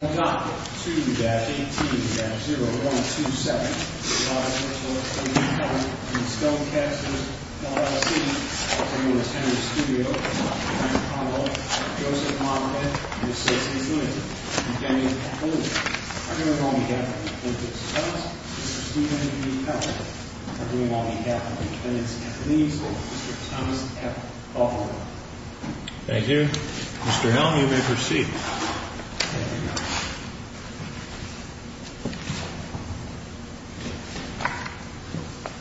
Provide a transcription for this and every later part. I'll tell you it's Henry Studio, Michael Connell, Joseph Monaghan, Ms. Stacey Flynn, and Danny Appalooza. I'm doing it on behalf of Mr. Clinton Stubbs, Mr. Stephen B. Powell. I'm doing it on behalf of the convenience companies, Mr. Thomas F. Butler. Thank you. Mr. Hill, you may proceed. Thank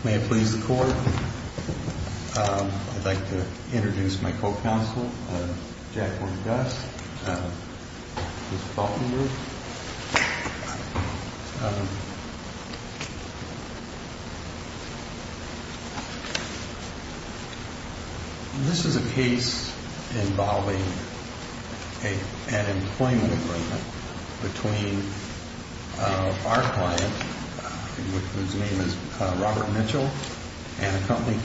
you. May it please the Court, I'd like to introduce my co-counsel, Jacqueline Guss, Ms. Falkenberg. This is a case involving an employment agreement between our client, whose name is Robert Mitchell, and a company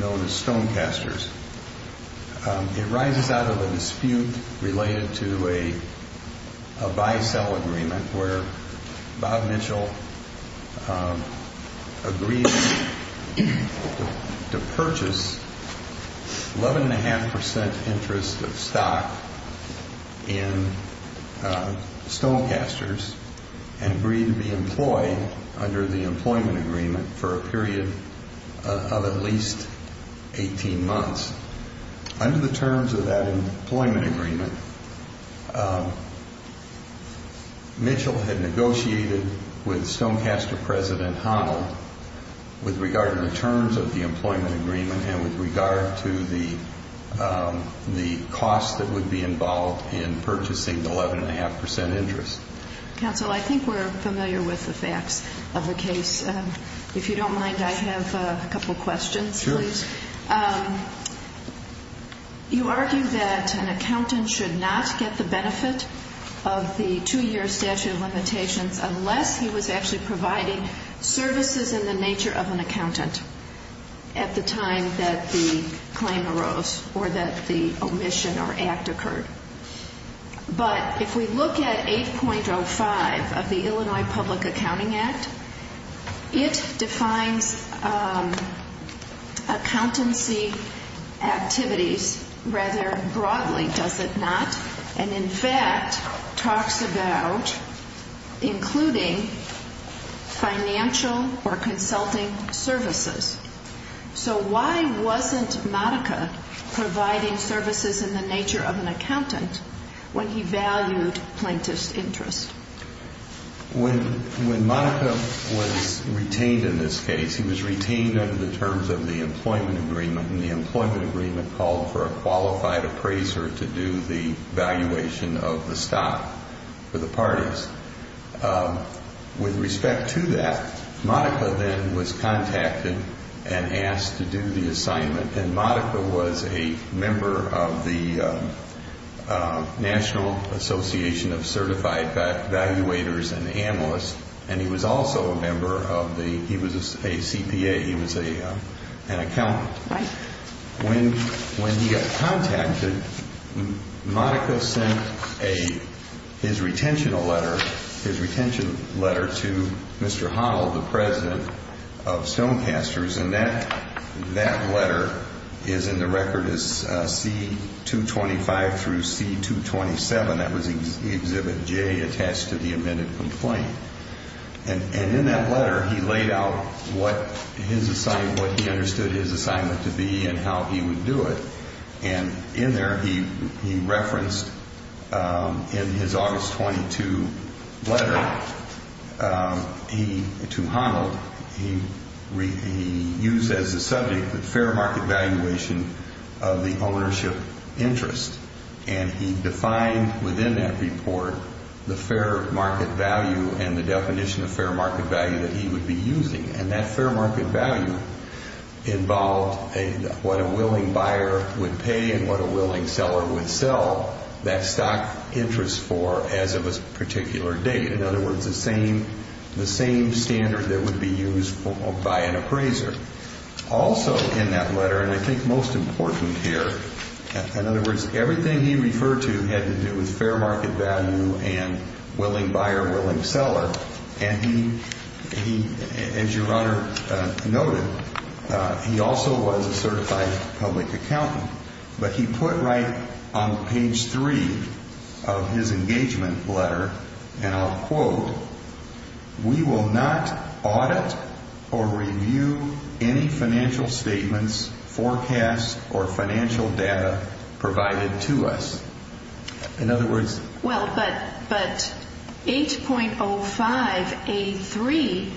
known as Stonecasters. It rises out of a dispute related to a buy-sell agreement where Bob Mitchell agreed to purchase 11.5% interest of stock in Stonecasters and agreed to be employed under the employment agreement for a period of at least 18 months. Under the terms of that employment agreement, Mitchell had negotiated with Stonecaster President Honnold with regard to the terms of the employment agreement and with regard to the cost that would be involved in purchasing 11.5% interest. Counsel, I think we're familiar with the facts of the case. If you don't mind, I have a couple questions, please. Sure. You argue that an accountant should not get the benefit of the two-year statute of limitations unless he was actually providing services in the nature of an accountant at the time that the claim arose or that the omission or act occurred. But if we look at 8.05 of the Illinois Public Accounting Act, it defines accountancy activities rather broadly, does it not? And in fact, talks about including financial or consulting services. So why wasn't Monica providing services in the nature of an accountant when he valued plaintiff's interest? When Monica was retained in this case, he was retained under the terms of the employment agreement, and the employment agreement called for a qualified appraiser to do the valuation of the stock for the parties. With respect to that, Monica then was contacted and asked to do the assignment, and Monica was a member of the National Association of Certified Valuators and Analysts, and he was also a member of the – he was a CPA, he was an accountant. Right. When he got contacted, Monica sent his retention letter to Mr. Honnold, the president of Stonecasters, and that letter is in the record as C-225 through C-227. That was Exhibit J attached to the amended complaint. And in that letter, he laid out what his – what he understood his assignment to be and how he would do it. And in there, he referenced in his August 22 letter, he – to Honnold, he used as a subject the fair market valuation of the ownership interest, and he defined within that report the fair market value and the definition of fair market value that he would be using. And that fair market value involved what a willing buyer would pay and what a willing seller would sell that stock interest for as of a particular date. In other words, the same standard that would be used by an appraiser. Also in that letter, and I think most important here, in other words, everything he referred to had to do with fair market value and willing buyer, willing seller. And he, as your Honor noted, he also was a certified public accountant. But he put right on page three of his engagement letter, and I'll quote, we will not audit or review any financial statements, forecasts, or financial data provided to us. In other words – Well, but 8.0583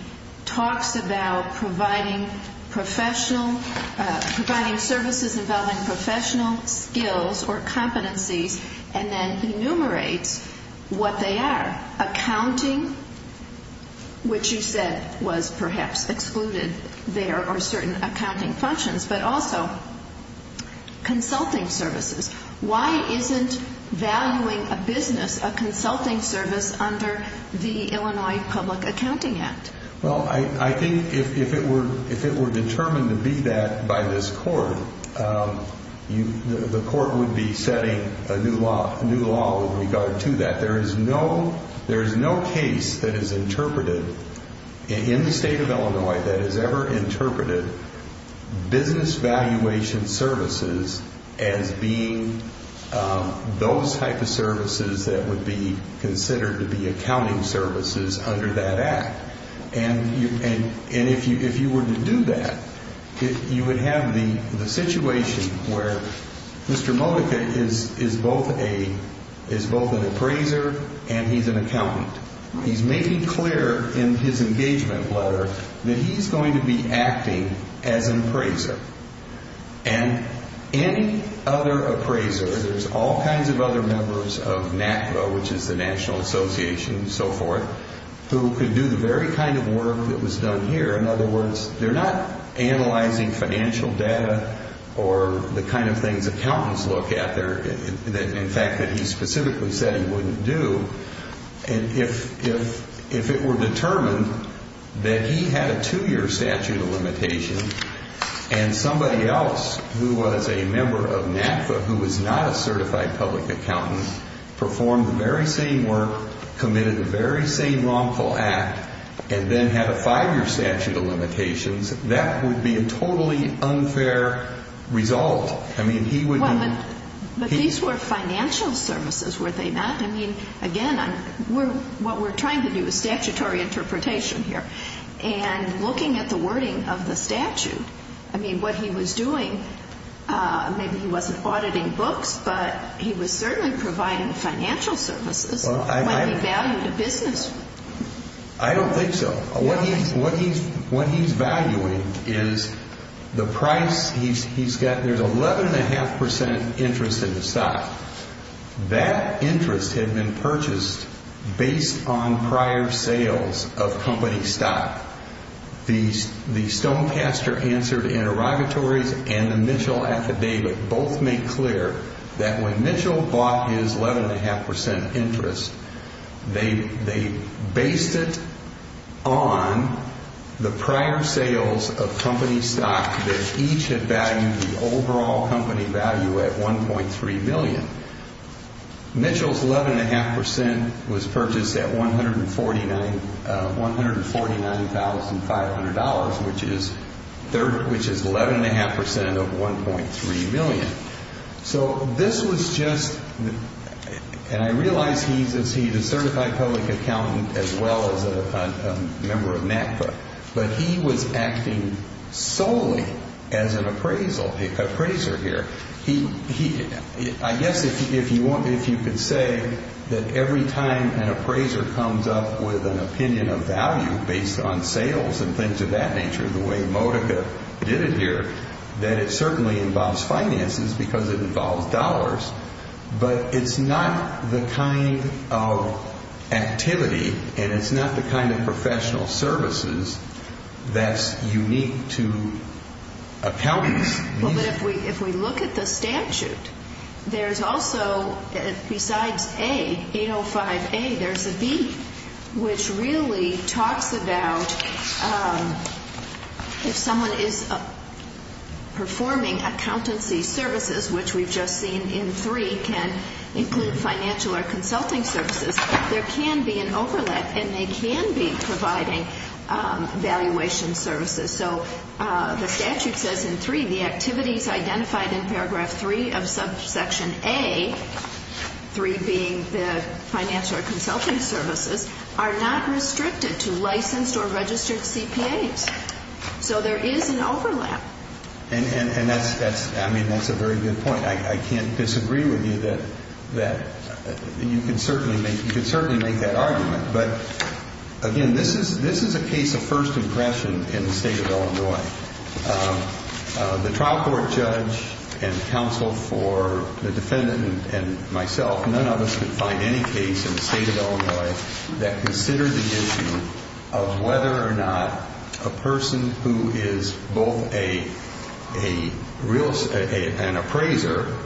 talks about providing professional – providing services involving professional skills or competencies and then enumerates what they are. Accounting, which you said was perhaps excluded there are certain accounting functions, but also consulting services. Why isn't valuing a business a consulting service under the Illinois Public Accounting Act? Well, I think if it were determined to be that by this court, the court would be setting a new law with regard to that. There is no case that is interpreted in the state of Illinois that has ever interpreted business valuation services as being those type of services that would be considered to be accounting services under that act. And if you were to do that, you would have the situation where Mr. Modica is both an appraiser and he's an accountant. He's making clear in his engagement letter that he's going to be acting as an appraiser. And any other appraiser, there's all kinds of other members of NACDA, which is the National Association and so forth, who could do the very kind of work that was done here. In other words, they're not analyzing financial data or the kind of things accountants look at there, in fact that he specifically said he wouldn't do. And if it were determined that he had a two-year statute of limitation and somebody else who was a member of NACDA who was not a certified public accountant performed the very same work, committed the very same wrongful act, and then had a five-year statute of limitations, that would be a totally unfair result. I mean, he would not. But these were financial services, were they not? I mean, again, what we're trying to do is statutory interpretation here. And looking at the wording of the statute, I mean, what he was doing, maybe he wasn't auditing books, but he was certainly providing financial services when he valued a business. I don't think so. What he's valuing is the price he's got. There's 11.5 percent interest in the stock. That interest had been purchased based on prior sales of company stock. The Stonecaster answer to interrogatories and the Mitchell affidavit both make clear that when Mitchell bought his 11.5 percent interest, they based it on the prior sales of company stock that each had valued the overall company value at 1.3 million. Mitchell's 11.5 percent was purchased at $149,500, which is 11.5 percent of 1.3 million. So this was just, and I realize he's a certified public accountant as well as a member of NACPA, but he was acting solely as an appraiser here. I guess if you could say that every time an appraiser comes up with an opinion of value based on sales and things of that nature, the way Modica did it here, that it certainly involves finances because it involves dollars, but it's not the kind of activity and it's not the kind of professional services that's unique to accountants. Well, but if we look at the statute, there's also, besides A, 805A, there's a B, which really talks about if someone is performing accountancy services, which we've just seen in three can include financial or consulting services, there can be an overlap and they can be providing valuation services. So the statute says in 3, the activities identified in paragraph 3 of subsection A, 3 being the financial or consulting services, are not restricted to licensed or registered CPAs. So there is an overlap. And that's a very good point. I can't disagree with you that you can certainly make that argument. But, again, this is a case of first impression in the state of Illinois. The trial court judge and counsel for the defendant and myself, none of us could find any case in the state of Illinois that considered the issue of whether or not a person who is both an appraiser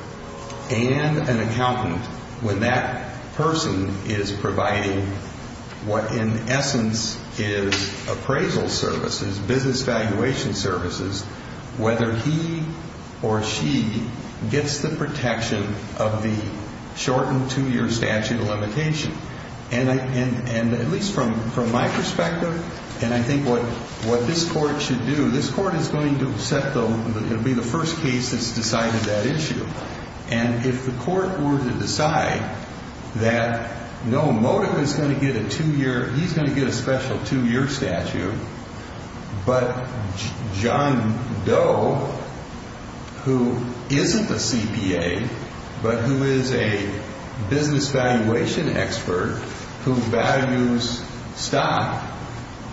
and an accountant, when that person is providing what in essence is appraisal services, business valuation services, whether he or she gets the protection of the shortened two-year statute of limitation. And at least from my perspective, and I think what this court should do, this court is going to be the first case that's decided that issue. And if the court were to decide that no, Modica is going to get a two-year, he's going to get a special two-year statute, but John Doe, who isn't a CPA, but who is a business valuation expert who values stock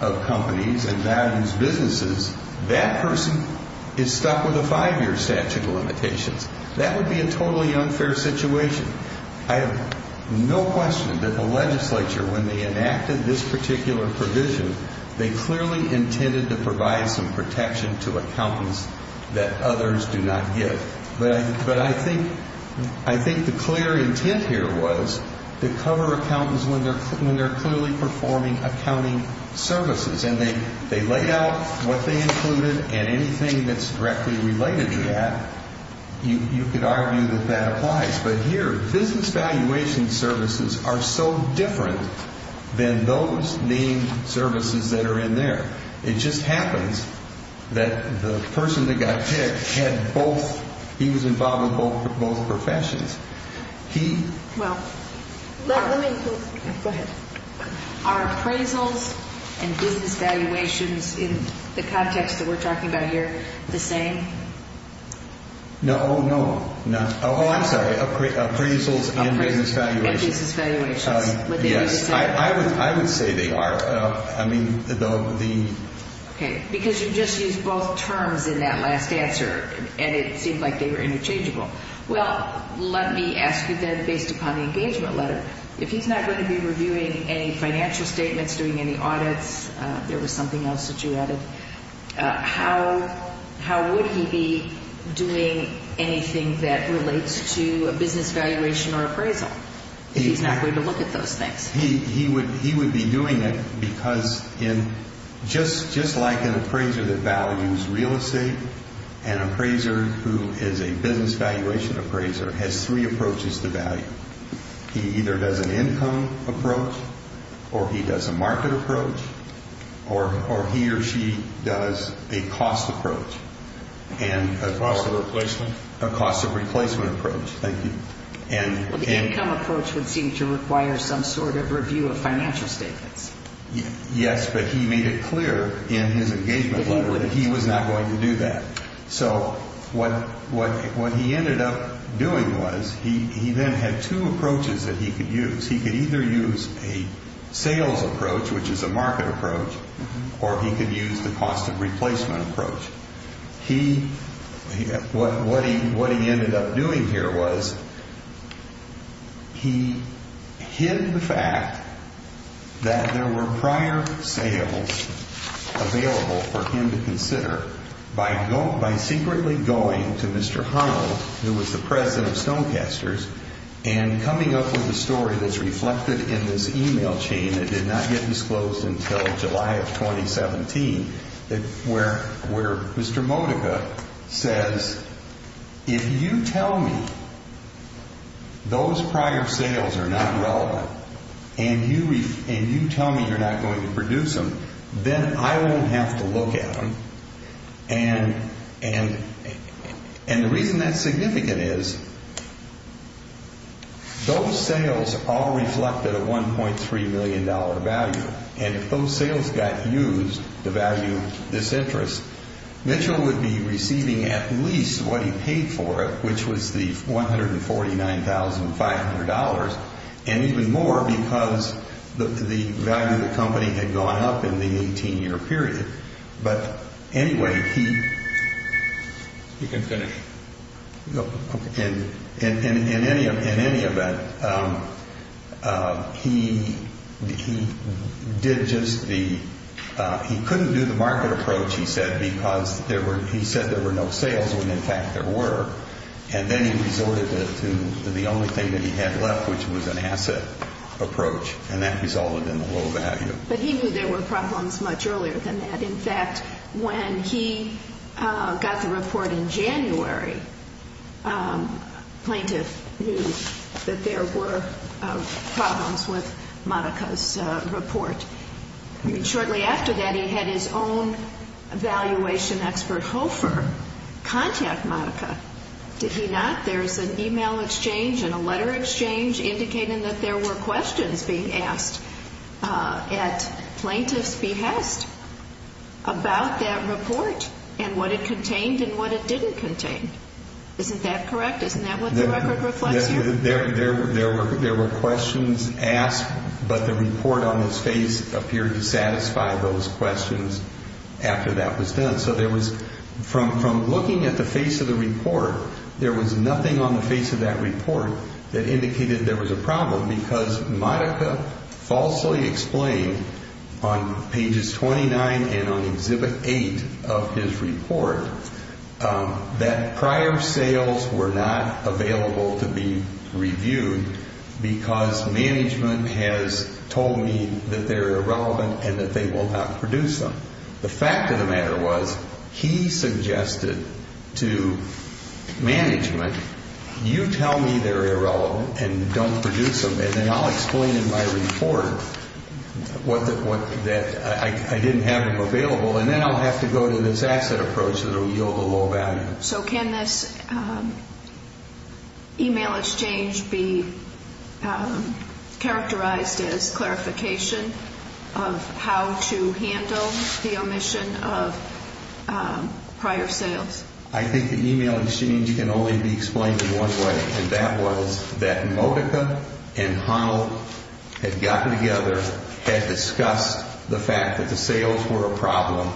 of companies and values businesses, that person is stuck with a five-year statute of limitations. That would be a totally unfair situation. I have no question that the legislature, when they enacted this particular provision, they clearly intended to provide some protection to accountants that others do not give. But I think the clear intent here was to cover accountants when they're clearly performing accounting services. And they laid out what they included, and anything that's directly related to that, you could argue that that applies. But here, business valuation services are so different than those named services that are in there. It just happens that the person that got picked had both – he was involved in both professions. He – Well, let me – go ahead. Are appraisals and business valuations in the context that we're talking about here the same? No, no. Oh, I'm sorry. Appraisals and business valuations. And business valuations. Yes. I would say they are. I mean, the – Okay. Because you just used both terms in that last answer, and it seemed like they were interchangeable. Well, let me ask you then, based upon the engagement letter, if he's not going to be reviewing any financial statements, doing any audits – there was something else that you added – how would he be doing anything that relates to a business valuation or appraisal if he's not going to look at those things? He would be doing it because in – just like an appraiser that values real estate, an appraiser who is a business valuation appraiser has three approaches to value. He either does an income approach, or he does a market approach, or he or she does a cost approach. A cost of replacement? A cost of replacement approach. Thank you. Well, the income approach would seem to require some sort of review of financial statements. Yes, but he made it clear in his engagement letter that he was not going to do that. So what he ended up doing was he then had two approaches that he could use. He could either use a sales approach, which is a market approach, or he could use the cost of replacement approach. What he ended up doing here was he hid the fact that there were prior sales available for him to consider by secretly going to Mr. Honnold, who was the president of Stonecasters, and coming up with a story that's reflected in this email chain that did not get disclosed until July of 2017 where Mr. Modica says, if you tell me those prior sales are not relevant, and you tell me you're not going to produce them, then I won't have to look at them. And the reason that's significant is those sales all reflected a $1.3 million value, and if those sales got used to value this interest, Mitchell would be receiving at least what he paid for it, which was the $149,500, and even more because the value of the company had gone up in the 18-year period. But anyway, he couldn't do the market approach, he said, because he said there were no sales when, in fact, there were. And then he resorted to the only thing that he had left, which was an asset approach, and that resulted in the low value. But he knew there were problems much earlier than that. In fact, when he got the report in January, plaintiff knew that there were problems with Modica's report. Shortly after that, he had his own valuation expert, Hofer, contact Modica. Did he not? There's an e-mail exchange and a letter exchange indicating that there were questions being asked at plaintiff's behest about that report and what it contained and what it didn't contain. Isn't that correct? Isn't that what the record reflects here? There were questions asked, but the report on his face appeared to satisfy those questions after that was done. So there was, from looking at the face of the report, there was nothing on the face of that report that indicated there was a problem because Modica falsely explained on pages 29 and on Exhibit 8 of his report that prior sales were not available to be reviewed because management has told me that they're irrelevant and that they will not produce them. The fact of the matter was he suggested to management, you tell me they're irrelevant and don't produce them and then I'll explain in my report that I didn't have them available and then I'll have to go to this asset approach that will yield a low value. So can this e-mail exchange be characterized as clarification of how to handle the omission of prior sales? I think the e-mail exchange can only be explained in one way and that was that Modica and Honnold had gotten together, had discussed the fact that the sales were a problem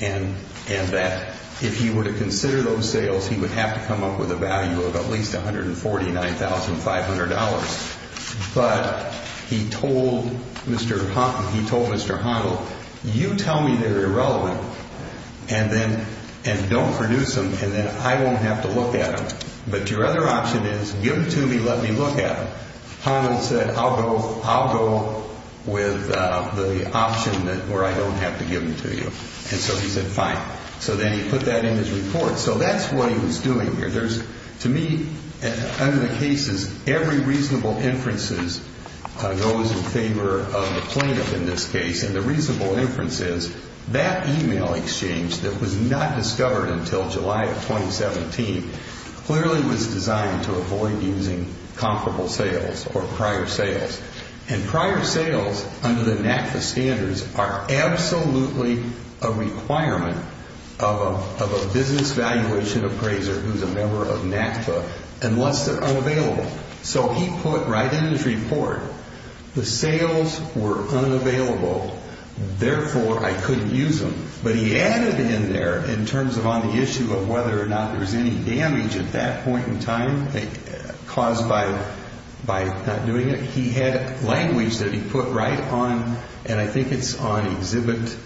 and that if he were to consider those sales, he would have to come up with a value of at least $149,500. But he told Mr. Honnold, you tell me they're irrelevant and don't produce them and then I won't have to look at them. But your other option is give them to me, let me look at them. Honnold said, I'll go with the option where I don't have to give them to you. And so he said fine. So then he put that in his report. So that's what he was doing here. To me, under the cases, every reasonable inferences goes in favor of the plaintiff in this case and the reasonable inference is that e-mail exchange that was not discovered until July of 2017 clearly was designed to avoid using comparable sales or prior sales. And prior sales under the NACFA standards are absolutely a requirement of a business valuation appraiser who's a member of NACFA unless they're unavailable. So he put right in his report, the sales were unavailable, therefore I couldn't use them. But he added in there in terms of on the issue of whether or not there was any damage at that point in time caused by not doing it, he had language that he put right on, and I think it's on Exhibit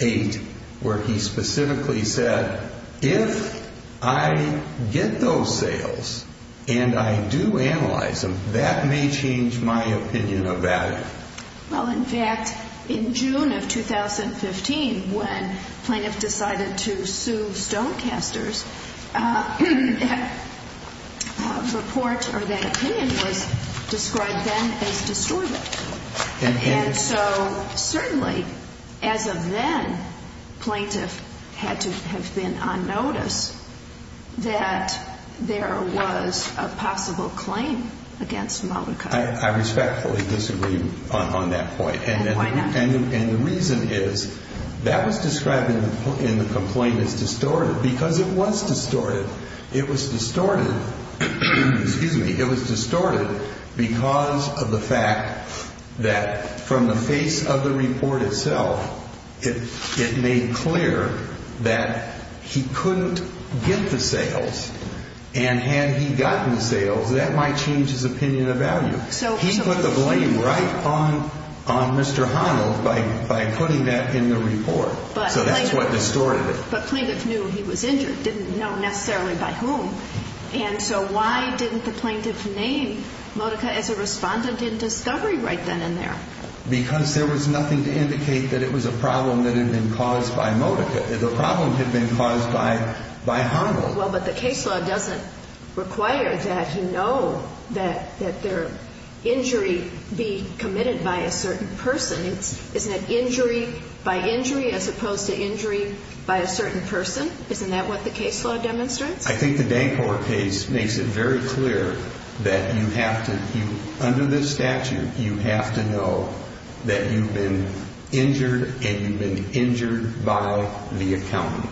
8, where he specifically said if I get those sales and I do analyze them, that may change my opinion about it. Well, in fact, in June of 2015, when plaintiff decided to sue Stonecasters, that report or that opinion was described then as distorted. And so certainly as of then, plaintiff had to have been on notice that there was a possible claim against Multicut. I respectfully disagree on that point. And the reason is that was described in the complaint as distorted because it was distorted. It was distorted because of the fact that from the face of the report itself, it made clear that he couldn't get the sales. And had he gotten the sales, that might change his opinion of value. He put the blame right on Mr. Honnold by putting that in the report. So that's what distorted it. But plaintiff knew he was injured, didn't know necessarily by whom. And so why didn't the plaintiff name Multicut as a respondent in discovery right then and there? Because there was nothing to indicate that it was a problem that had been caused by Multicut. The problem had been caused by Honnold. Well, but the case law doesn't require that you know that their injury be committed by a certain person. Isn't it injury by injury as opposed to injury by a certain person? Isn't that what the case law demonstrates? I think the Danker case makes it very clear that you have to, under this statute, you have to know that you've been injured and you've been injured by the accountant.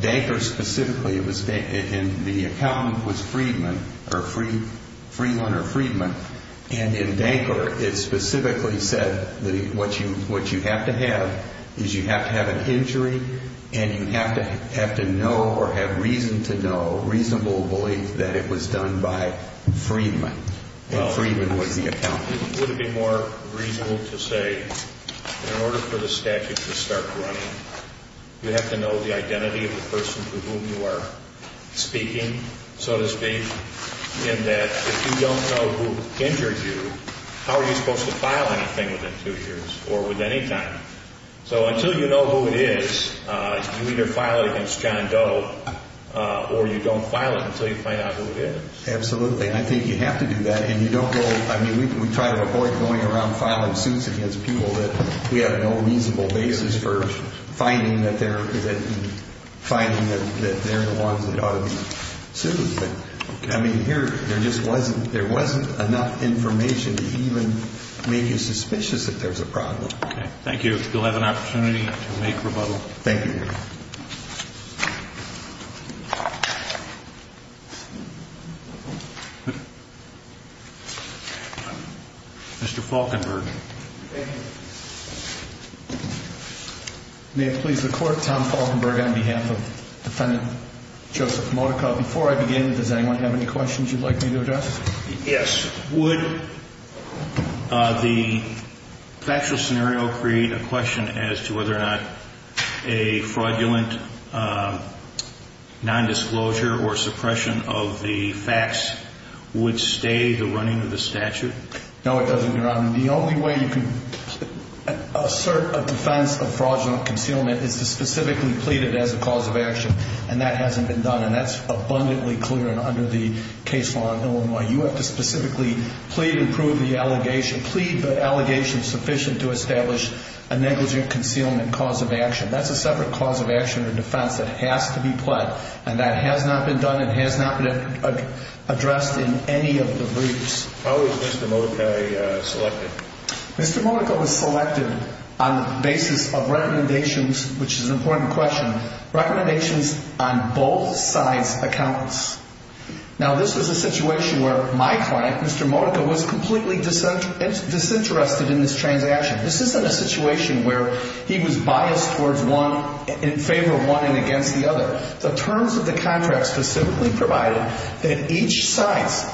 Danker specifically, and the accountant was Freedman, or Freeland or Freedman, and in Danker it specifically said that what you have to have is you have to have an injury and you have to know or have reason to know, reasonable belief, that it was done by Freedman. And Freedman was the accountant. Would it be more reasonable to say in order for the statute to start running, you have to know the identity of the person for whom you are speaking, so to speak, in that if you don't know who injured you, how are you supposed to file anything within two years or with any time? So until you know who it is, you either file it against John Doe or you don't file it until you find out who it is. Absolutely. I think you have to do that. And you don't go, I mean, we try to avoid going around filing suits against people that we have no reasonable basis for finding that they're the ones that ought to be sued. But, I mean, here there just wasn't enough information to even make you suspicious that there's a problem. Okay. Thank you. You'll have an opportunity to make rebuttal. Thank you. Mr. Falkenberg. Thank you. May it please the Court, Tom Falkenberg on behalf of Defendant Joseph Modica. Before I begin, does anyone have any questions you'd like me to address? Yes. Would the factual scenario create a question as to whether or not a fraudulent nondisclosure or suppression of the facts would stay the running of the statute? No, it doesn't, Your Honor. The only way you can assert a defense of fraudulent concealment is to specifically plead it as a cause of action. And that hasn't been done. And that's abundantly clear and under the case law in Illinois. You have to specifically plead and prove the allegation. Plead the allegation sufficient to establish a negligent concealment cause of action. That's a separate cause of action or defense that has to be pled. And that has not been done and has not been addressed in any of the briefs. How was Mr. Modica selected? Mr. Modica was selected on the basis of recommendations, which is an important question, recommendations on both sides' accounts. Now, this was a situation where my client, Mr. Modica, was completely disinterested in this transaction. This isn't a situation where he was biased in favor of one and against the other. The terms of the contract specifically provided that each side's,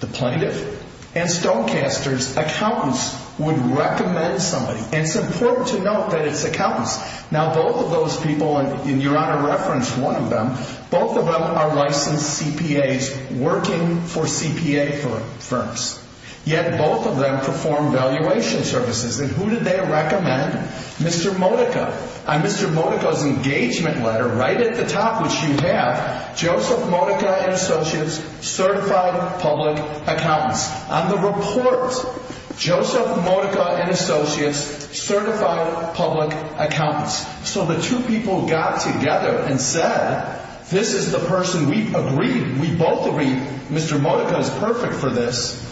the plaintiff and stonecaster's, accountants would recommend somebody. And it's important to note that it's accountants. Now, both of those people, and Your Honor referenced one of them, both of them are licensed CPAs working for CPA firms. Yet, both of them perform valuation services. And who did they recommend? Mr. Modica. On Mr. Modica's engagement letter, right at the top, which you have, Joseph Modica and Associates, certified public accountants. On the report, Joseph Modica and Associates, certified public accountants. So the two people got together and said, this is the person we agreed, we both agreed Mr. Modica is perfect for this.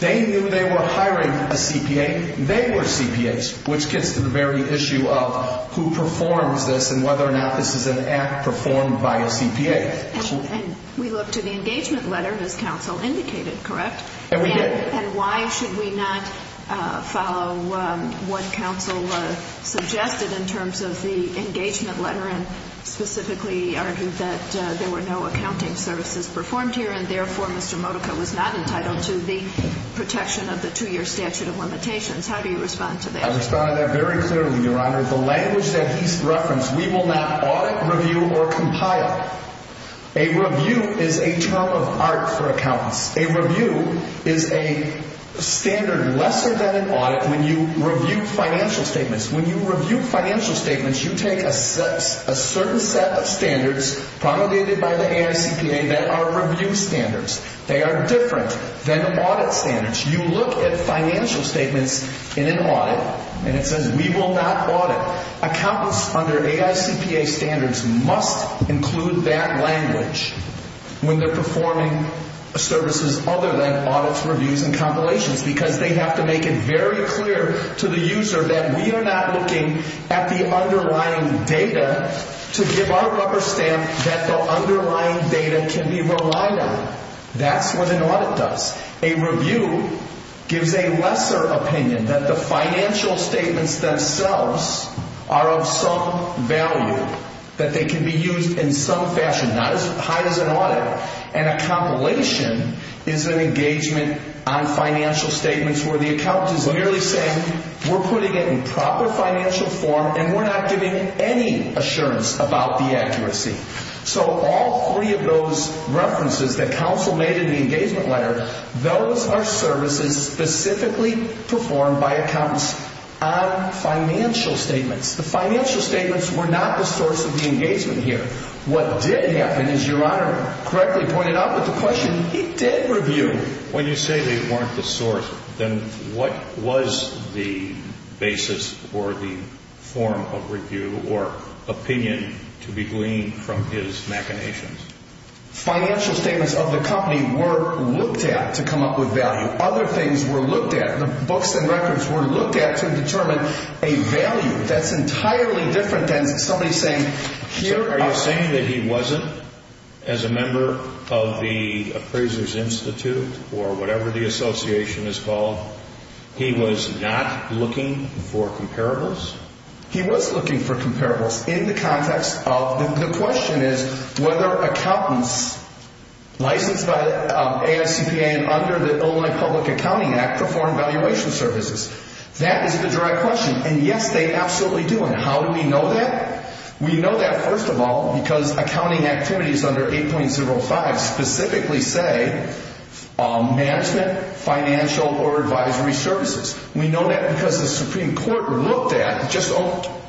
They knew they were hiring a CPA. They were CPAs, which gets to the very issue of who performs this and whether or not this is an act performed by a CPA. And we looked at the engagement letter, as counsel indicated, correct? And we did. And why should we not follow what counsel suggested in terms of the engagement letter and specifically argued that there were no accounting services performed here, and therefore Mr. Modica was not entitled to the protection of the two-year statute of limitations? How do you respond to that? I respond to that very clearly, Your Honor. The language that he referenced, we will not audit, review, or compile. A review is a term of art for accountants. A review is a standard lesser than an audit when you review financial statements. When you review financial statements, you take a certain set of standards promulgated by the AICPA that are review standards. They are different than audit standards. You look at financial statements in an audit and it says we will not audit. Accountants under AICPA standards must include that language when they're performing services other than audits, reviews, and compilations because they have to make it very clear to the user that we are not looking at the underlying data to give our rubber stamp that the underlying data can be relied on. That's what an audit does. A review gives a lesser opinion that the financial statements themselves are of some value, that they can be used in some fashion, not as high as an audit. And a compilation is an engagement on financial statements where the accountant is merely saying we're putting it in proper financial form and we're not giving any assurance about the accuracy. So all three of those references that counsel made in the engagement letter, those are services specifically performed by accountants on financial statements. The financial statements were not the source of the engagement here. What did happen, as Your Honor correctly pointed out with the question, he did review. When you say they weren't the source, then what was the basis or the form of review or opinion to be gleaned from his machinations? Financial statements of the company were looked at to come up with value. Other things were looked at, the books and records were looked at to determine a value. That's entirely different than somebody saying here are... So are you saying that he wasn't, as a member of the appraiser's institute or whatever the association is called, he was not looking for comparables? He was looking for comparables in the context of the question is whether accountants licensed by ASCPA and under the Illinois Public Accounting Act perform valuation services. That is the direct question, and yes, they absolutely do. And how do we know that? We know that, first of all, because accounting activities under 8.05 specifically say management, financial, or advisory services. We know that because the Supreme Court looked at, just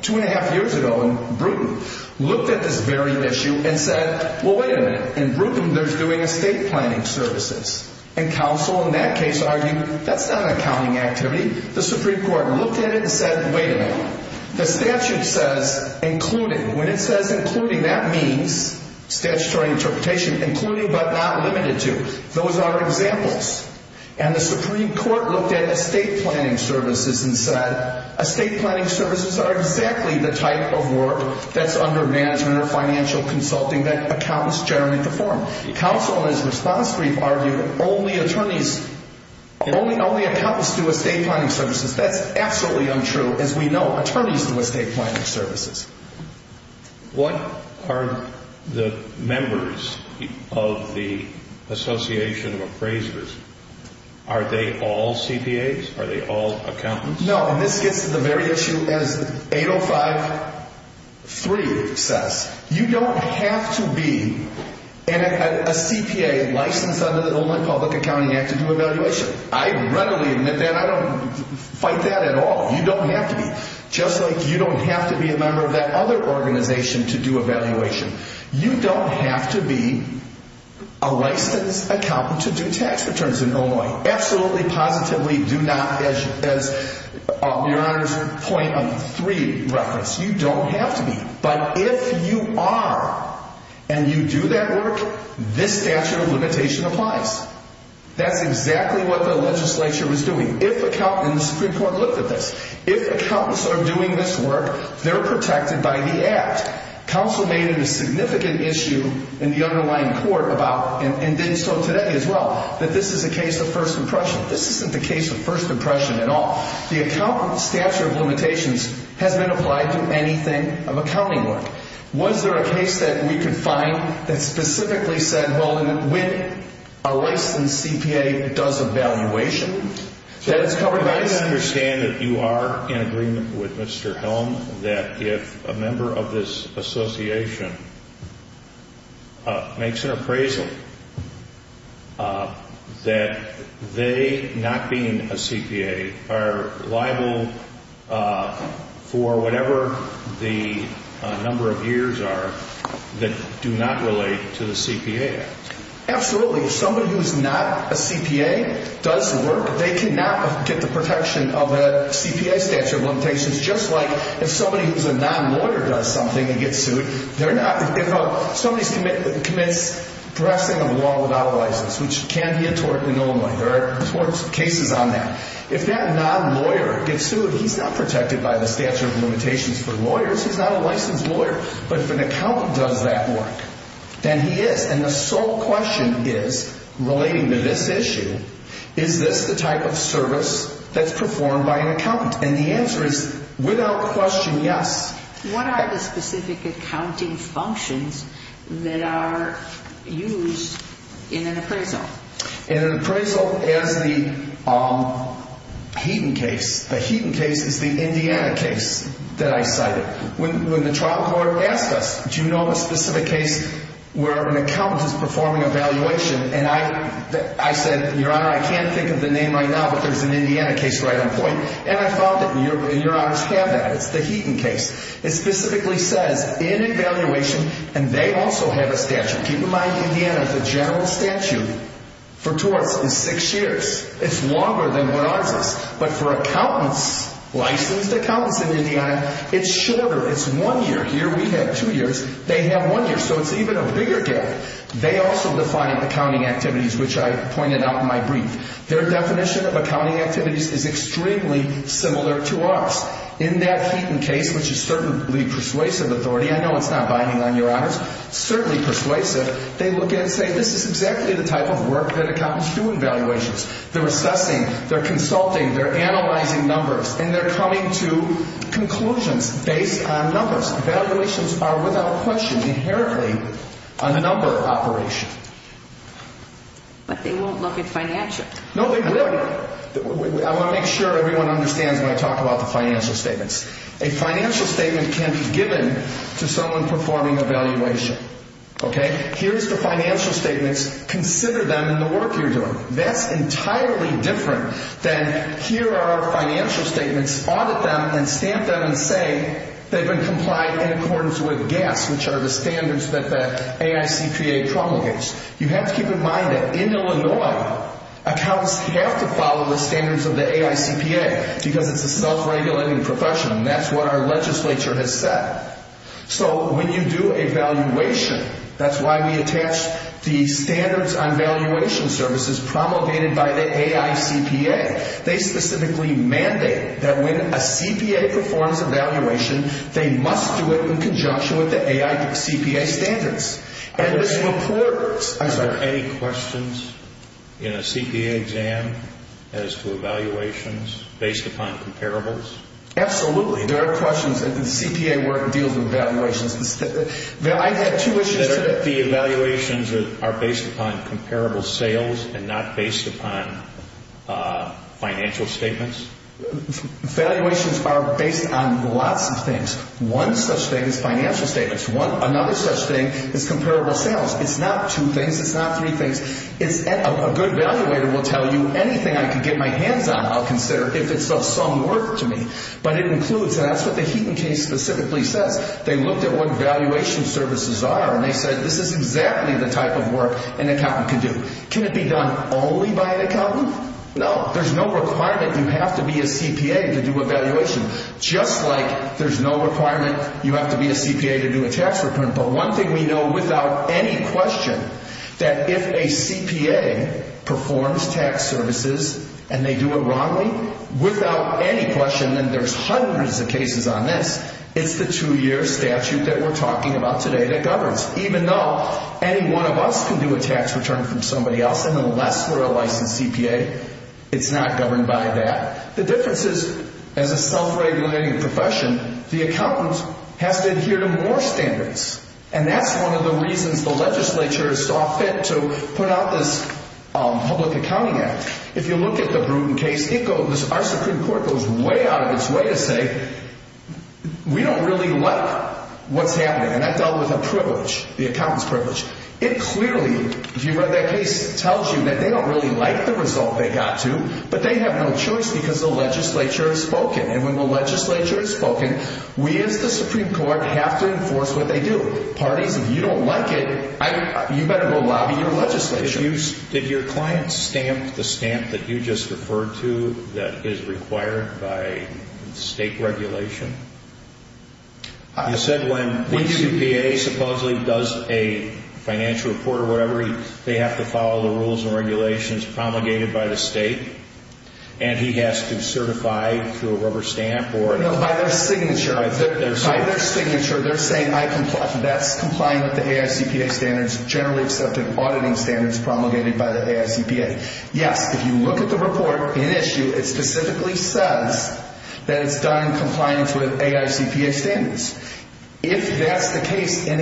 two and a half years ago in Brewton, looked at this very issue and said, well, wait a minute. In Brewton, they're doing estate planning services. And counsel in that case argued that's not an accounting activity. The Supreme Court looked at it and said, wait a minute. The statute says included. When it says including, that means statutory interpretation, including but not limited to. Those are examples. And the Supreme Court looked at estate planning services and said estate planning services are exactly the type of work that's under management or financial consulting that accountants generally perform. Counsel in his response brief argued only attorneys, only accountants do estate planning services. That's absolutely untrue. As we know, attorneys do estate planning services. What are the members of the Association of Appraisers? Are they all CPAs? Are they all accountants? No, and this gets to the very issue as 8.05.3 says. You don't have to be a CPA licensed under the Illinois Public Accounting Act to do evaluation. I readily admit that. I don't fight that at all. You don't have to be. Just like you don't have to be a member of that other organization to do evaluation. You don't have to be a licensed accountant to do tax returns in Illinois. Absolutely, positively do not, as your Honor's point on 3 referenced. You don't have to be. But if you are and you do that work, this statute of limitation applies. That's exactly what the legislature was doing. If accountants, and the Supreme Court looked at this, if accountants are doing this work, they're protected by the Act. Counsel made it a significant issue in the underlying court about, and did so today as well, that this is a case of first impression. This isn't the case of first impression at all. The accountant statute of limitations has been applied to anything of accounting work. Was there a case that we could find that specifically said, well, when a licensed CPA does evaluation, that it's covered by the statute? I understand that you are in agreement with Mr. Helm that if a member of this association makes an appraisal, that they, not being a CPA, are liable for whatever the number of years are that do not relate to the CPA Act. Absolutely. If somebody who's not a CPA does work, they cannot get the protection of a CPA statute of limitations. Just like if somebody who's a non-lawyer does something and gets sued, they're not. If somebody commits professing of a law without a license, which can be a tort and only. There are tort cases on that. If that non-lawyer gets sued, he's not protected by the statute of limitations for lawyers. He's not a licensed lawyer. But if an accountant does that work, then he is. And the sole question is, relating to this issue, is this the type of service that's performed by an accountant? And the answer is, without question, yes. What are the specific accounting functions that are used in an appraisal? In an appraisal, as the Heaton case, the Heaton case is the Indiana case that I cited. When the trial court asked us, do you know of a specific case where an accountant is performing evaluation, and I said, Your Honor, I can't think of the name right now, but there's an Indiana case right on point. And I found it, and Your Honors have that. It's the Heaton case. It specifically says, in evaluation, and they also have a statute. Keep in mind, Indiana, the general statute for torts is six years. It's longer than what ours is. But for accountants, licensed accountants in Indiana, it's shorter. It's one year here. We have two years. They have one year, so it's even a bigger gap. They also define accounting activities, which I pointed out in my brief. Their definition of accounting activities is extremely similar to ours. In that Heaton case, which is certainly persuasive authority, I know it's not binding on Your Honors, certainly persuasive, they look at it and say, this is exactly the type of work that accountants do in valuations. They're assessing, they're consulting, they're analyzing numbers, and they're coming to conclusions based on numbers. Valuations are, without question, inherently a number operation. But they won't look at financials. No, they will. I want to make sure everyone understands when I talk about the financial statements. A financial statement can be given to someone performing a valuation. Here's the financial statements. Consider them in the work you're doing. That's entirely different than here are our financial statements. Audit them and stamp them and say they've been complied in accordance with GAAS, which are the standards that the AICPA promulgates. You have to keep in mind that in Illinois, accountants have to follow the standards of the AICPA because it's a self-regulating profession, and that's what our legislature has said. When you do a valuation, that's why we attach the standards on valuation services promulgated by the AICPA. They specifically mandate that when a CPA performs a valuation, they must do it in conjunction with the AICPA standards. Are there any questions in a CPA exam as to evaluations based upon comparables? Absolutely. There are questions. The CPA work deals with evaluations. I had two issues today. The evaluations are based upon comparable sales and not based upon financial statements? Valuations are based on lots of things. One such thing is financial statements. Another such thing is comparable sales. It's not two things. It's not three things. A good evaluator will tell you anything I can get my hands on, I'll consider, if it's of some worth to me. But it includes, and that's what the Heaton case specifically says, they looked at what valuation services are, and they said, this is exactly the type of work an accountant can do. Can it be done only by an accountant? No. There's no requirement you have to be a CPA to do a valuation, just like there's no requirement you have to be a CPA to do a tax return. But one thing we know without any question, that if a CPA performs tax services and they do it wrongly, without any question, and there's hundreds of cases on this, it's the two-year statute that we're talking about today that governs. Even though any one of us can do a tax return from somebody else, unless we're a licensed CPA, it's not governed by that. The difference is, as a self-regulating profession, the accountant has to adhere to more standards. And that's one of the reasons the legislature saw fit to put out this Public Accounting Act. If you look at the Bruton case, our Supreme Court goes way out of its way to say, we don't really like what's happening. And that dealt with a privilege, the accountant's privilege. It clearly, if you read that case, tells you that they don't really like the result they got to, but they have no choice because the legislature has spoken. And when the legislature has spoken, we as the Supreme Court have to enforce what they do. Parties, if you don't like it, you better go lobby your legislature. Did your client stamp the stamp that you just referred to that is required by state regulation? You said when a CPA supposedly does a financial report or whatever, they have to follow the rules and regulations promulgated by the state, and he has to certify through a rubber stamp? No, by their signature. By their signature, they're saying that's compliant with the AICPA standards, generally accepted auditing standards promulgated by the AICPA. Yes, if you look at the report in issue, it specifically says that it's done in compliance with AICPA standards. If that's the case and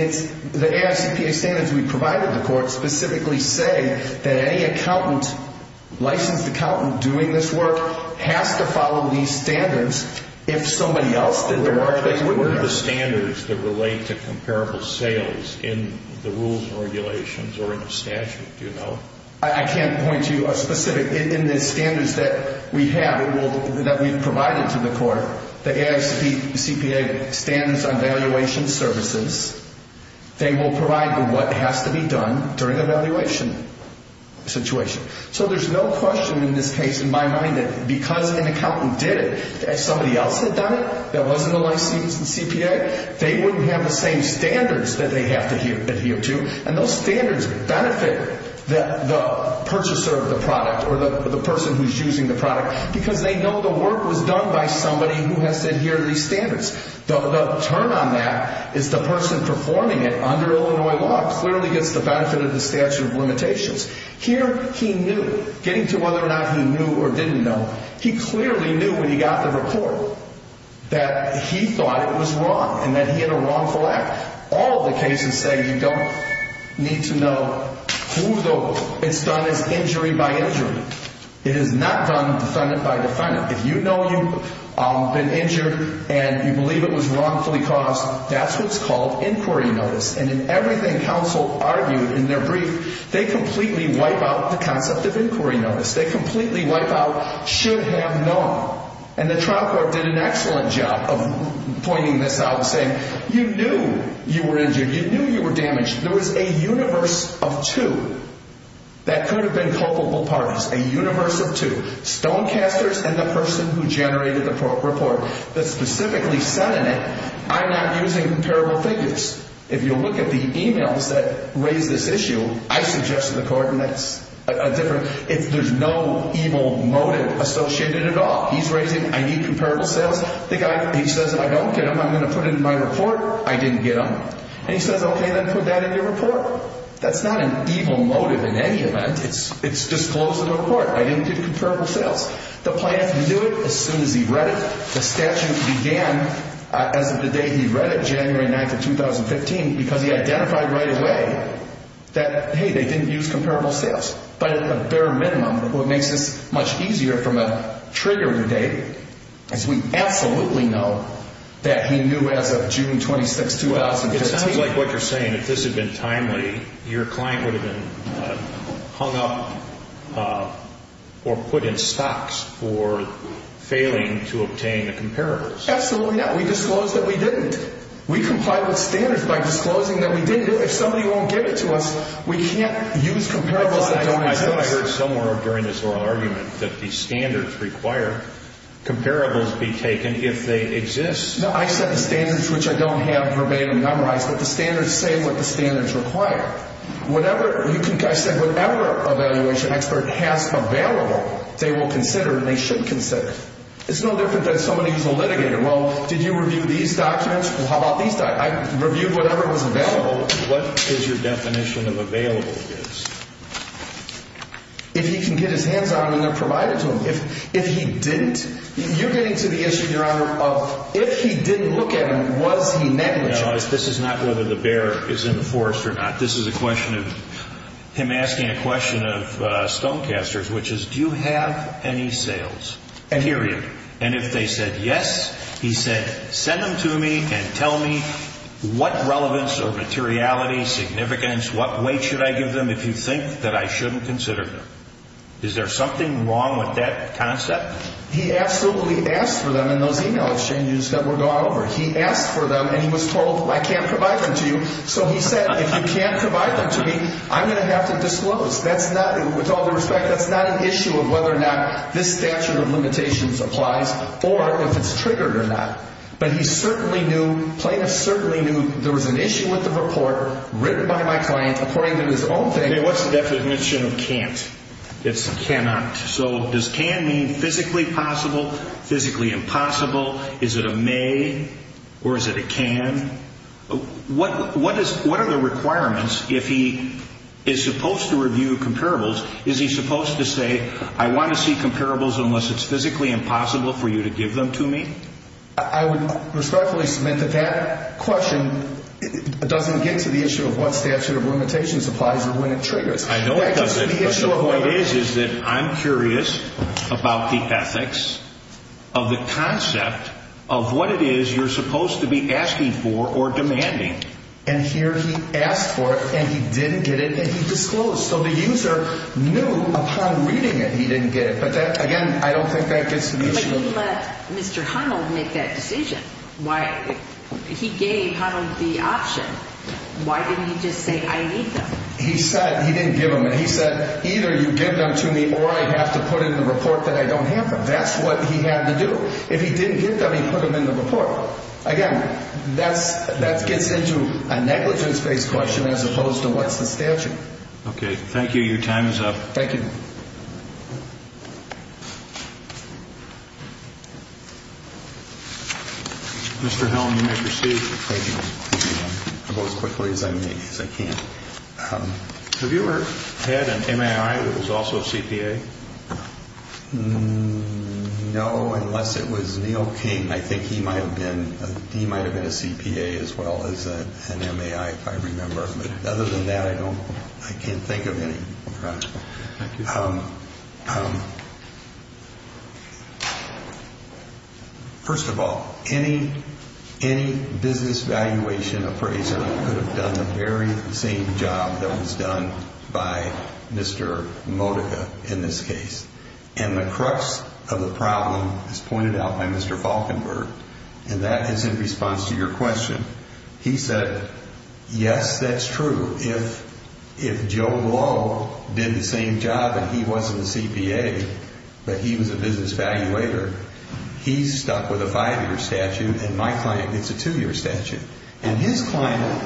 the AICPA standards we provided the court specifically say that any accountant, licensed accountant, doing this work has to follow these standards. If somebody else did the work, they wouldn't. What are the standards that relate to comparable sales in the rules and regulations or in the statute, do you know? I can't point to a specific. In the standards that we have, that we've provided to the court, the AICPA standards on valuation services, they will provide what has to be done during a valuation situation. So there's no question in this case, in my mind, that because an accountant did it and somebody else had done it that wasn't a licensed CPA, they wouldn't have the same standards that they have to adhere to, and those standards benefit the purchaser of the product or the person who's using the product because they know the work was done by somebody who has to adhere to these standards. The turn on that is the person performing it under Illinois law clearly gets the benefit of the statute of limitations. Here, he knew. Getting to whether or not he knew or didn't know, he clearly knew when he got the report that he thought it was wrong and that he had a wrongful act. All of the cases say you don't need to know who the... It's done as injury by injury. It is not done defendant by defendant. If you know you've been injured and you believe it was wrongfully caused, that's what's called inquiry notice. And in everything counsel argued in their brief, they completely wipe out the concept of inquiry notice. They completely wipe out should have known. And the trial court did an excellent job of pointing this out and saying, you knew you were injured. You knew you were damaged. There was a universe of two that could have been culpable parties. A universe of two. Stonecasters and the person who generated the report that specifically said in it, I'm not using comparable figures. If you look at the e-mails that raise this issue, I suggested to the court, and that's a different... There's no evil motive associated at all. He's raising, I need comparable sales. The guy, he says, I don't get them. I'm going to put it in my report. I didn't get them. And he says, okay, then put that in your report. That's not an evil motive in any event. It's disclosed to the court. I didn't get comparable sales. The plaintiff knew it as soon as he read it. The statute began as of the day he read it, January 9th of 2015, because he identified right away that, hey, they didn't use comparable sales. But at the bare minimum, what makes this much easier from a triggering date, is we absolutely know that he knew as of June 26th, 2015. It sounds like what you're saying, if this had been timely, your client would have been hung up or put in stocks for failing to obtain the comparables. Absolutely not. We disclosed that we didn't. We complied with standards by disclosing that we did. If somebody won't give it to us, we can't use comparables that don't exist. I thought I heard somewhere during this oral argument that the standards require comparables be taken if they exist. No, I said the standards, which I don't have verbatim memorized, but the standards say what the standards require. Whatever, I said, whatever evaluation expert has available, they will consider and they should consider. It's no different than somebody who's a litigator. Well, did you review these documents? Well, how about these documents? I reviewed whatever was available. What is your definition of available? If he can get his hands on them and they're provided to him. If he didn't. You're getting to the issue, Your Honor, of if he didn't look at them, was he negligent? Your Honor, this is not whether the bear is in the forest or not. This is a question of him asking a question of stonecasters, which is do you have any sales, period? And if they said yes, he said send them to me and tell me what relevance or materiality, significance, what weight should I give them if you think that I shouldn't consider them. Is there something wrong with that concept? He absolutely asked for them in those email exchanges that were gone over. He asked for them and he was told I can't provide them to you. So he said if you can't provide them to me, I'm going to have to disclose. With all due respect, that's not an issue of whether or not this statute of limitations applies or if it's triggered or not. But he certainly knew, plaintiff certainly knew there was an issue with the report written by my client according to his own thinking. Okay, what's the definition of can't? It's cannot. So does can mean physically possible, physically impossible? Is it a may or is it a can? What are the requirements if he is supposed to review comparables? Is he supposed to say I want to see comparables unless it's physically impossible for you to give them to me? I would respectfully submit that that question doesn't get to the issue of what statute of limitations applies or when it triggers. I know it doesn't. The point is that I'm curious about the ethics of the concept of what it is you're supposed to be asking for or demanding. And here he asked for it and he didn't get it and he disclosed. So the user knew upon reading it he didn't get it. But, again, I don't think that gets to the issue. But he let Mr. Honnold make that decision. He gave Honnold the option. Why didn't he just say I need them? He said he didn't give them. He said either you give them to me or I have to put in the report that I don't have them. That's what he had to do. If he didn't give them, he put them in the report. Again, that gets into a negligence-based question as opposed to what's the statute. Okay. Thank you. Your time is up. Thank you. Mr. Helton, you may proceed. I'll go as quickly as I can. Have you ever had an MAI that was also a CPA? No, unless it was Neil King. I think he might have been a CPA as well as an MAI, if I remember. Other than that, I can't think of any. Thank you. First of all, any business valuation appraiser could have done the very same job that was done by Mr. Modica in this case. And the crux of the problem is pointed out by Mr. Falkenberg, and that is in response to your question. He said, yes, that's true. If Joe Blow did the same job and he wasn't a CPA but he was a business valuator, he's stuck with a five-year statute and my client gets a two-year statute. And his client,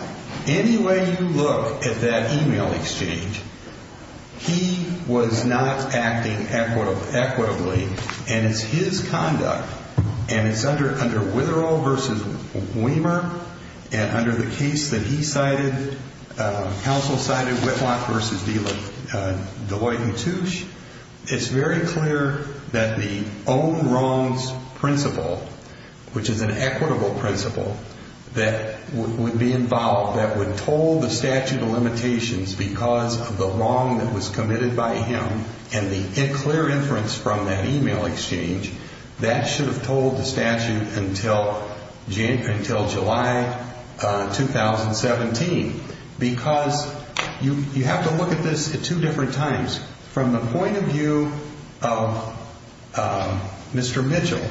any way you look at that email exchange, he was not acting equitably. And it's his conduct. And it's under Witherall v. Weimer and under the case that he cited, counsel cited, Whitlock v. Deloitte-Metouche, it's very clear that the own wrongs principle, which is an equitable principle, that would be involved, that would toll the statute of limitations because of the wrong that was committed by him and the clear inference from that email exchange, that should have tolled the statute until July 2017. Because you have to look at this at two different times. From the point of view of Mr. Mitchell,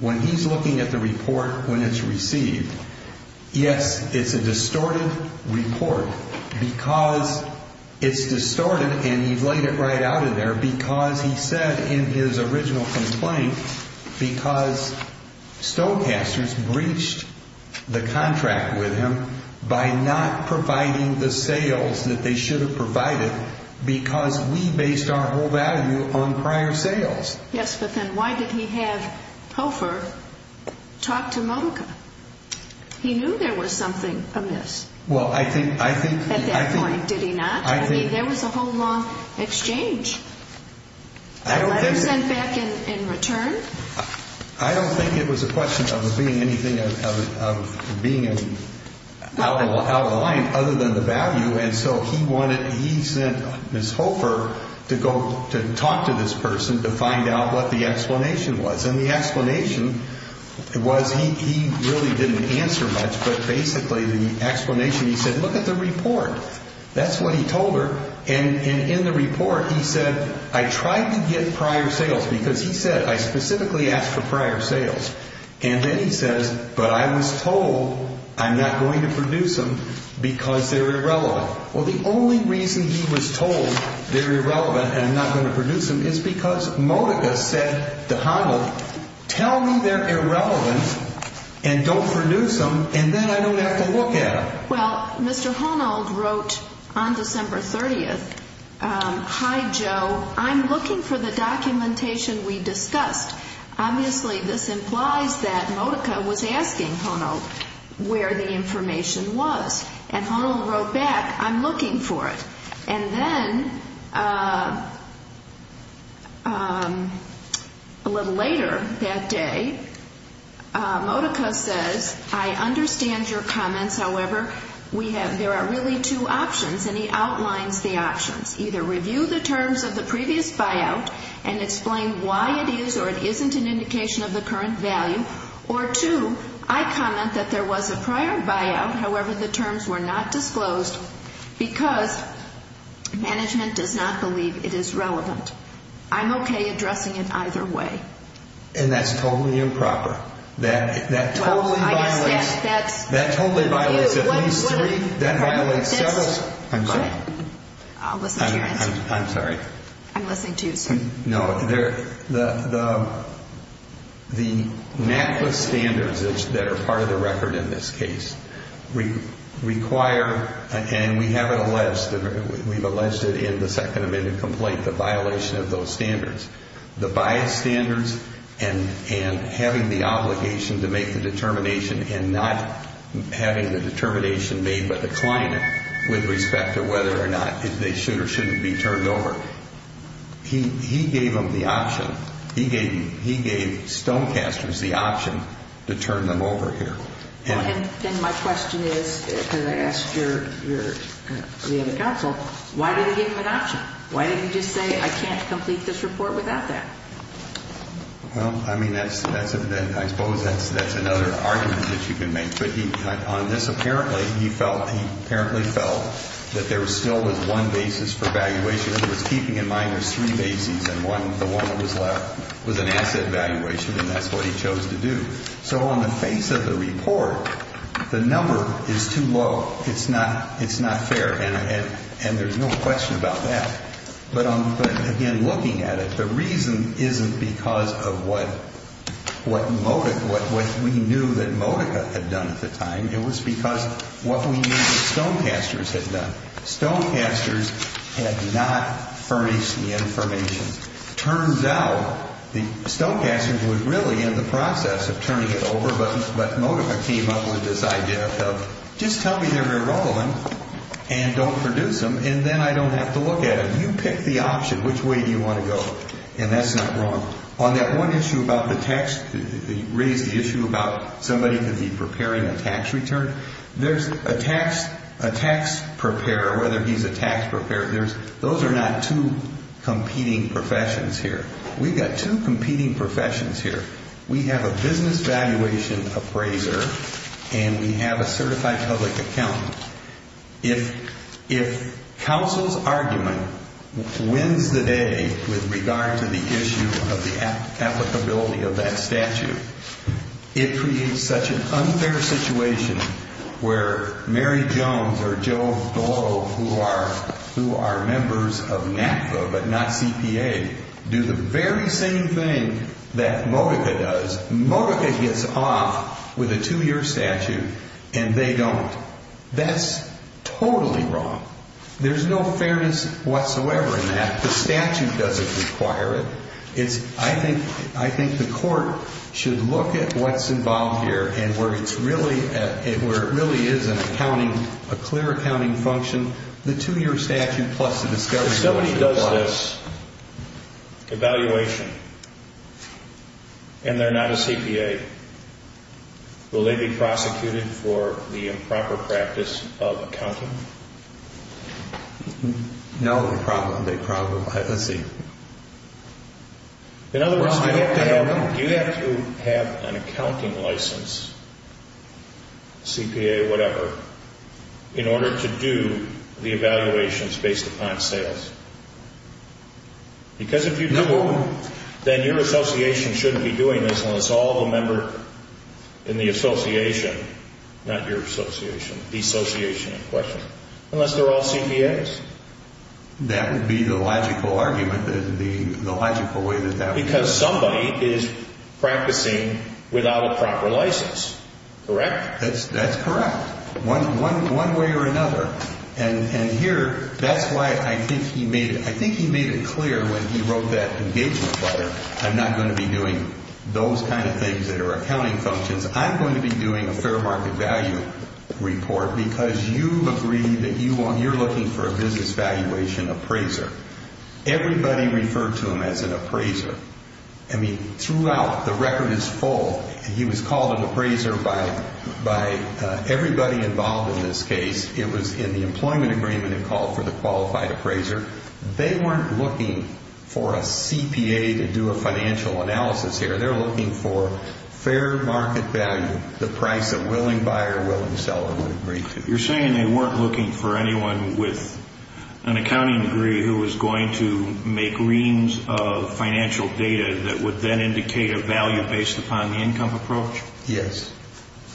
when he's looking at the report when it's received, yes, it's a distorted report because it's distorted and he's laid it right out of there because he said in his original complaint because stonecasters breached the contract with him by not providing the sales that they should have provided because we based our whole value on prior sales. Yes, but then why did he have Hofer talk to Modica? He knew there was something amiss at that point, did he not? I mean, there was a whole long exchange. A letter sent back in return? I don't think it was a question of being anything, of being out of line other than the value. And so he wanted, he sent Ms. Hofer to go to talk to this person to find out what the explanation was. And the explanation was, he really didn't answer much, but basically the explanation, he said, look at the report. That's what he told her. And in the report, he said, I tried to get prior sales because he said, I specifically asked for prior sales. And then he says, but I was told I'm not going to produce them because they're irrelevant. Well, the only reason he was told they're irrelevant and I'm not going to produce them is because Modica said to Honnold, tell me they're irrelevant and don't produce them and then I don't have to look at them. Well, Mr. Honnold wrote on December 30th, hi, Joe, I'm looking for the documentation we discussed. Obviously, this implies that Modica was asking Honnold where the information was. And Honnold wrote back, I'm looking for it. And then a little later that day, Modica says, I understand your comments. However, we have, there are really two options and he outlines the options. Either review the terms of the previous buyout and explain why it is or it isn't an indication of the current value. Or two, I comment that there was a prior buyout. However, the terms were not disclosed because management does not believe it is relevant. I'm okay addressing it either way. And that's totally improper. That totally violates at least three, that violates several. I'm sorry. I'll listen to you. I'm sorry. I'm listening to you, sir. No, the NACLA standards that are part of the record in this case require, and we have it alleged, we've alleged it in the second amendment complaint, the violation of those standards. The buyout standards and having the obligation to make the determination and not having the determination made by the client with respect to whether or not they should or shouldn't be turned over, he gave them the option, he gave Stonecasters the option to turn them over here. And my question is, because I asked your, the other counsel, why did he give them an option? Why did he just say, I can't complete this report without that? Well, I mean, that's a, I suppose that's another argument that you can make. But he, on this apparently, he felt, he apparently felt that there still was one basis for valuation. He was keeping in mind there's three bases and one, the one that was left was an asset valuation, and that's what he chose to do. So on the face of the report, the number is too low. It's not, it's not fair. And there's no question about that. But again, looking at it, the reason isn't because of what Modica, what we knew that Modica had done at the time. It was because what we knew that Stonecasters had done. Stonecasters had not furnished the information. Turns out the Stonecasters were really in the process of turning it over. But Modica came up with this idea of just tell me they're going to roll them and don't produce them, and then I don't have to look at them. You pick the option. Which way do you want to go? And that's not wrong. On that one issue about the tax, raise the issue about somebody could be preparing a tax return. There's a tax, a tax preparer, whether he's a tax preparer, there's, those are not two competing professions here. We've got two competing professions here. We have a business valuation appraiser and we have a certified public accountant. If, if counsel's argument wins the day with regard to the issue of the applicability of that statute, it creates such an unfair situation where Mary Jones or Joe Golo, who are, who are members of NAFTA but not CPA, do the very same thing that Modica does. Modica gets off with a two-year statute and they don't. That's totally wrong. There's no fairness whatsoever in that. The statute doesn't require it. It's, I think, I think the court should look at what's involved here and where it's really, where it really is an accounting, a clear accounting function. The two-year statute plus the discovery. If somebody does this, evaluation, and they're not a CPA, will they be prosecuted for the improper practice of accounting? No, they probably won't. Let's see. In other words, do you have to have an accounting license, CPA or whatever, in order to do the evaluations based upon sales? Because if you do, then your association shouldn't be doing this unless all the member in the association, not your association, the association in question, unless they're all CPAs. That would be the logical argument, the logical way that that would work. Because somebody is practicing without a proper license. Correct? That's correct. One way or another. And here, that's why I think he made it, I think he made it clear when he wrote that engagement letter, I'm not going to be doing those kind of things that are accounting functions. I'm going to be doing a fair market value report because you agree that you're looking for a business valuation appraiser. Everybody referred to him as an appraiser. I mean, throughout, the record is full. He was called an appraiser by everybody involved in this case. It was in the employment agreement it called for the qualified appraiser. They weren't looking for a CPA to do a financial analysis here. They're looking for fair market value, the price a willing buyer, willing seller would agree to. You're saying they weren't looking for anyone with an accounting degree who was going to make reams of financial data that would then indicate a value based upon the income approach? Yes.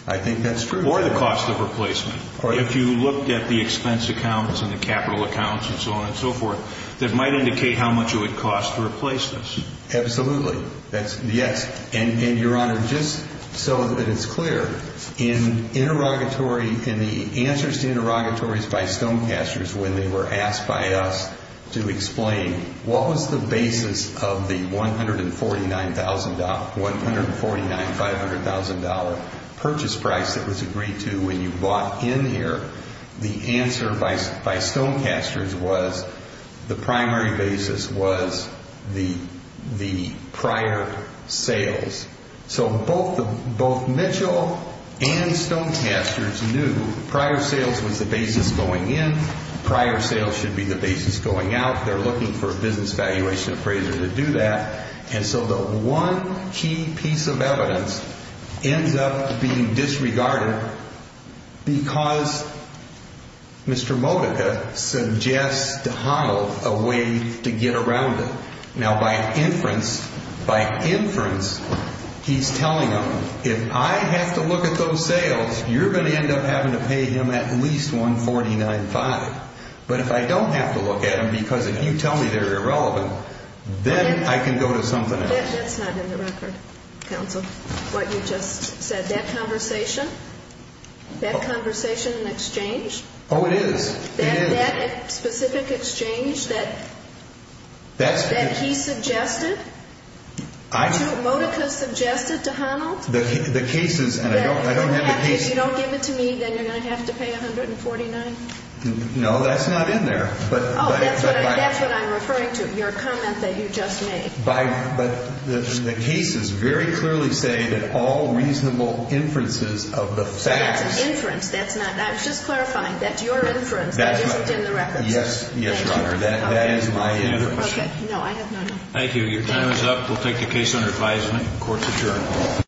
I think that's true. Or the cost of replacement. If you looked at the expense accounts and the capital accounts and so on and so forth, that might indicate how much it would cost to replace this. Absolutely. Yes. And, Your Honor, just so that it's clear, in interrogatory, in the answers to interrogatories by Stonecasters when they were asked by us to explain what was the basis of the $149,000, $149,500 purchase price that was agreed to when you bought in here, the answer by Stonecasters was the primary basis was the prior sales. So both Mitchell and Stonecasters knew prior sales was the basis going in. Prior sales should be the basis going out. They're looking for a business valuation appraiser to do that. And so the one key piece of evidence ends up being disregarded because Mr. Modica suggests to Honnold a way to get around it. Now, by inference, by inference, he's telling them, if I have to look at those sales, you're going to end up having to pay him at least $149,500. But if I don't have to look at them because if you tell me they're irrelevant, then I can go to something else. That's not in the record, counsel, what you just said. That conversation, that conversation and exchange. Oh, it is. That specific exchange that he suggested, Modica suggested to Honnold. The cases, and I don't have the cases. If you don't give it to me, then you're going to have to pay $149,000. No, that's not in there. Oh, that's what I'm referring to, your comment that you just made. But the cases very clearly say that all reasonable inferences of the facts. That's inference. That's not. I was just clarifying. That's your inference. That isn't in the records. Yes, Your Honor. That is my inference. Okay. No, I have none. Thank you. Your time is up. We'll take the case under advisement. Court's adjourned.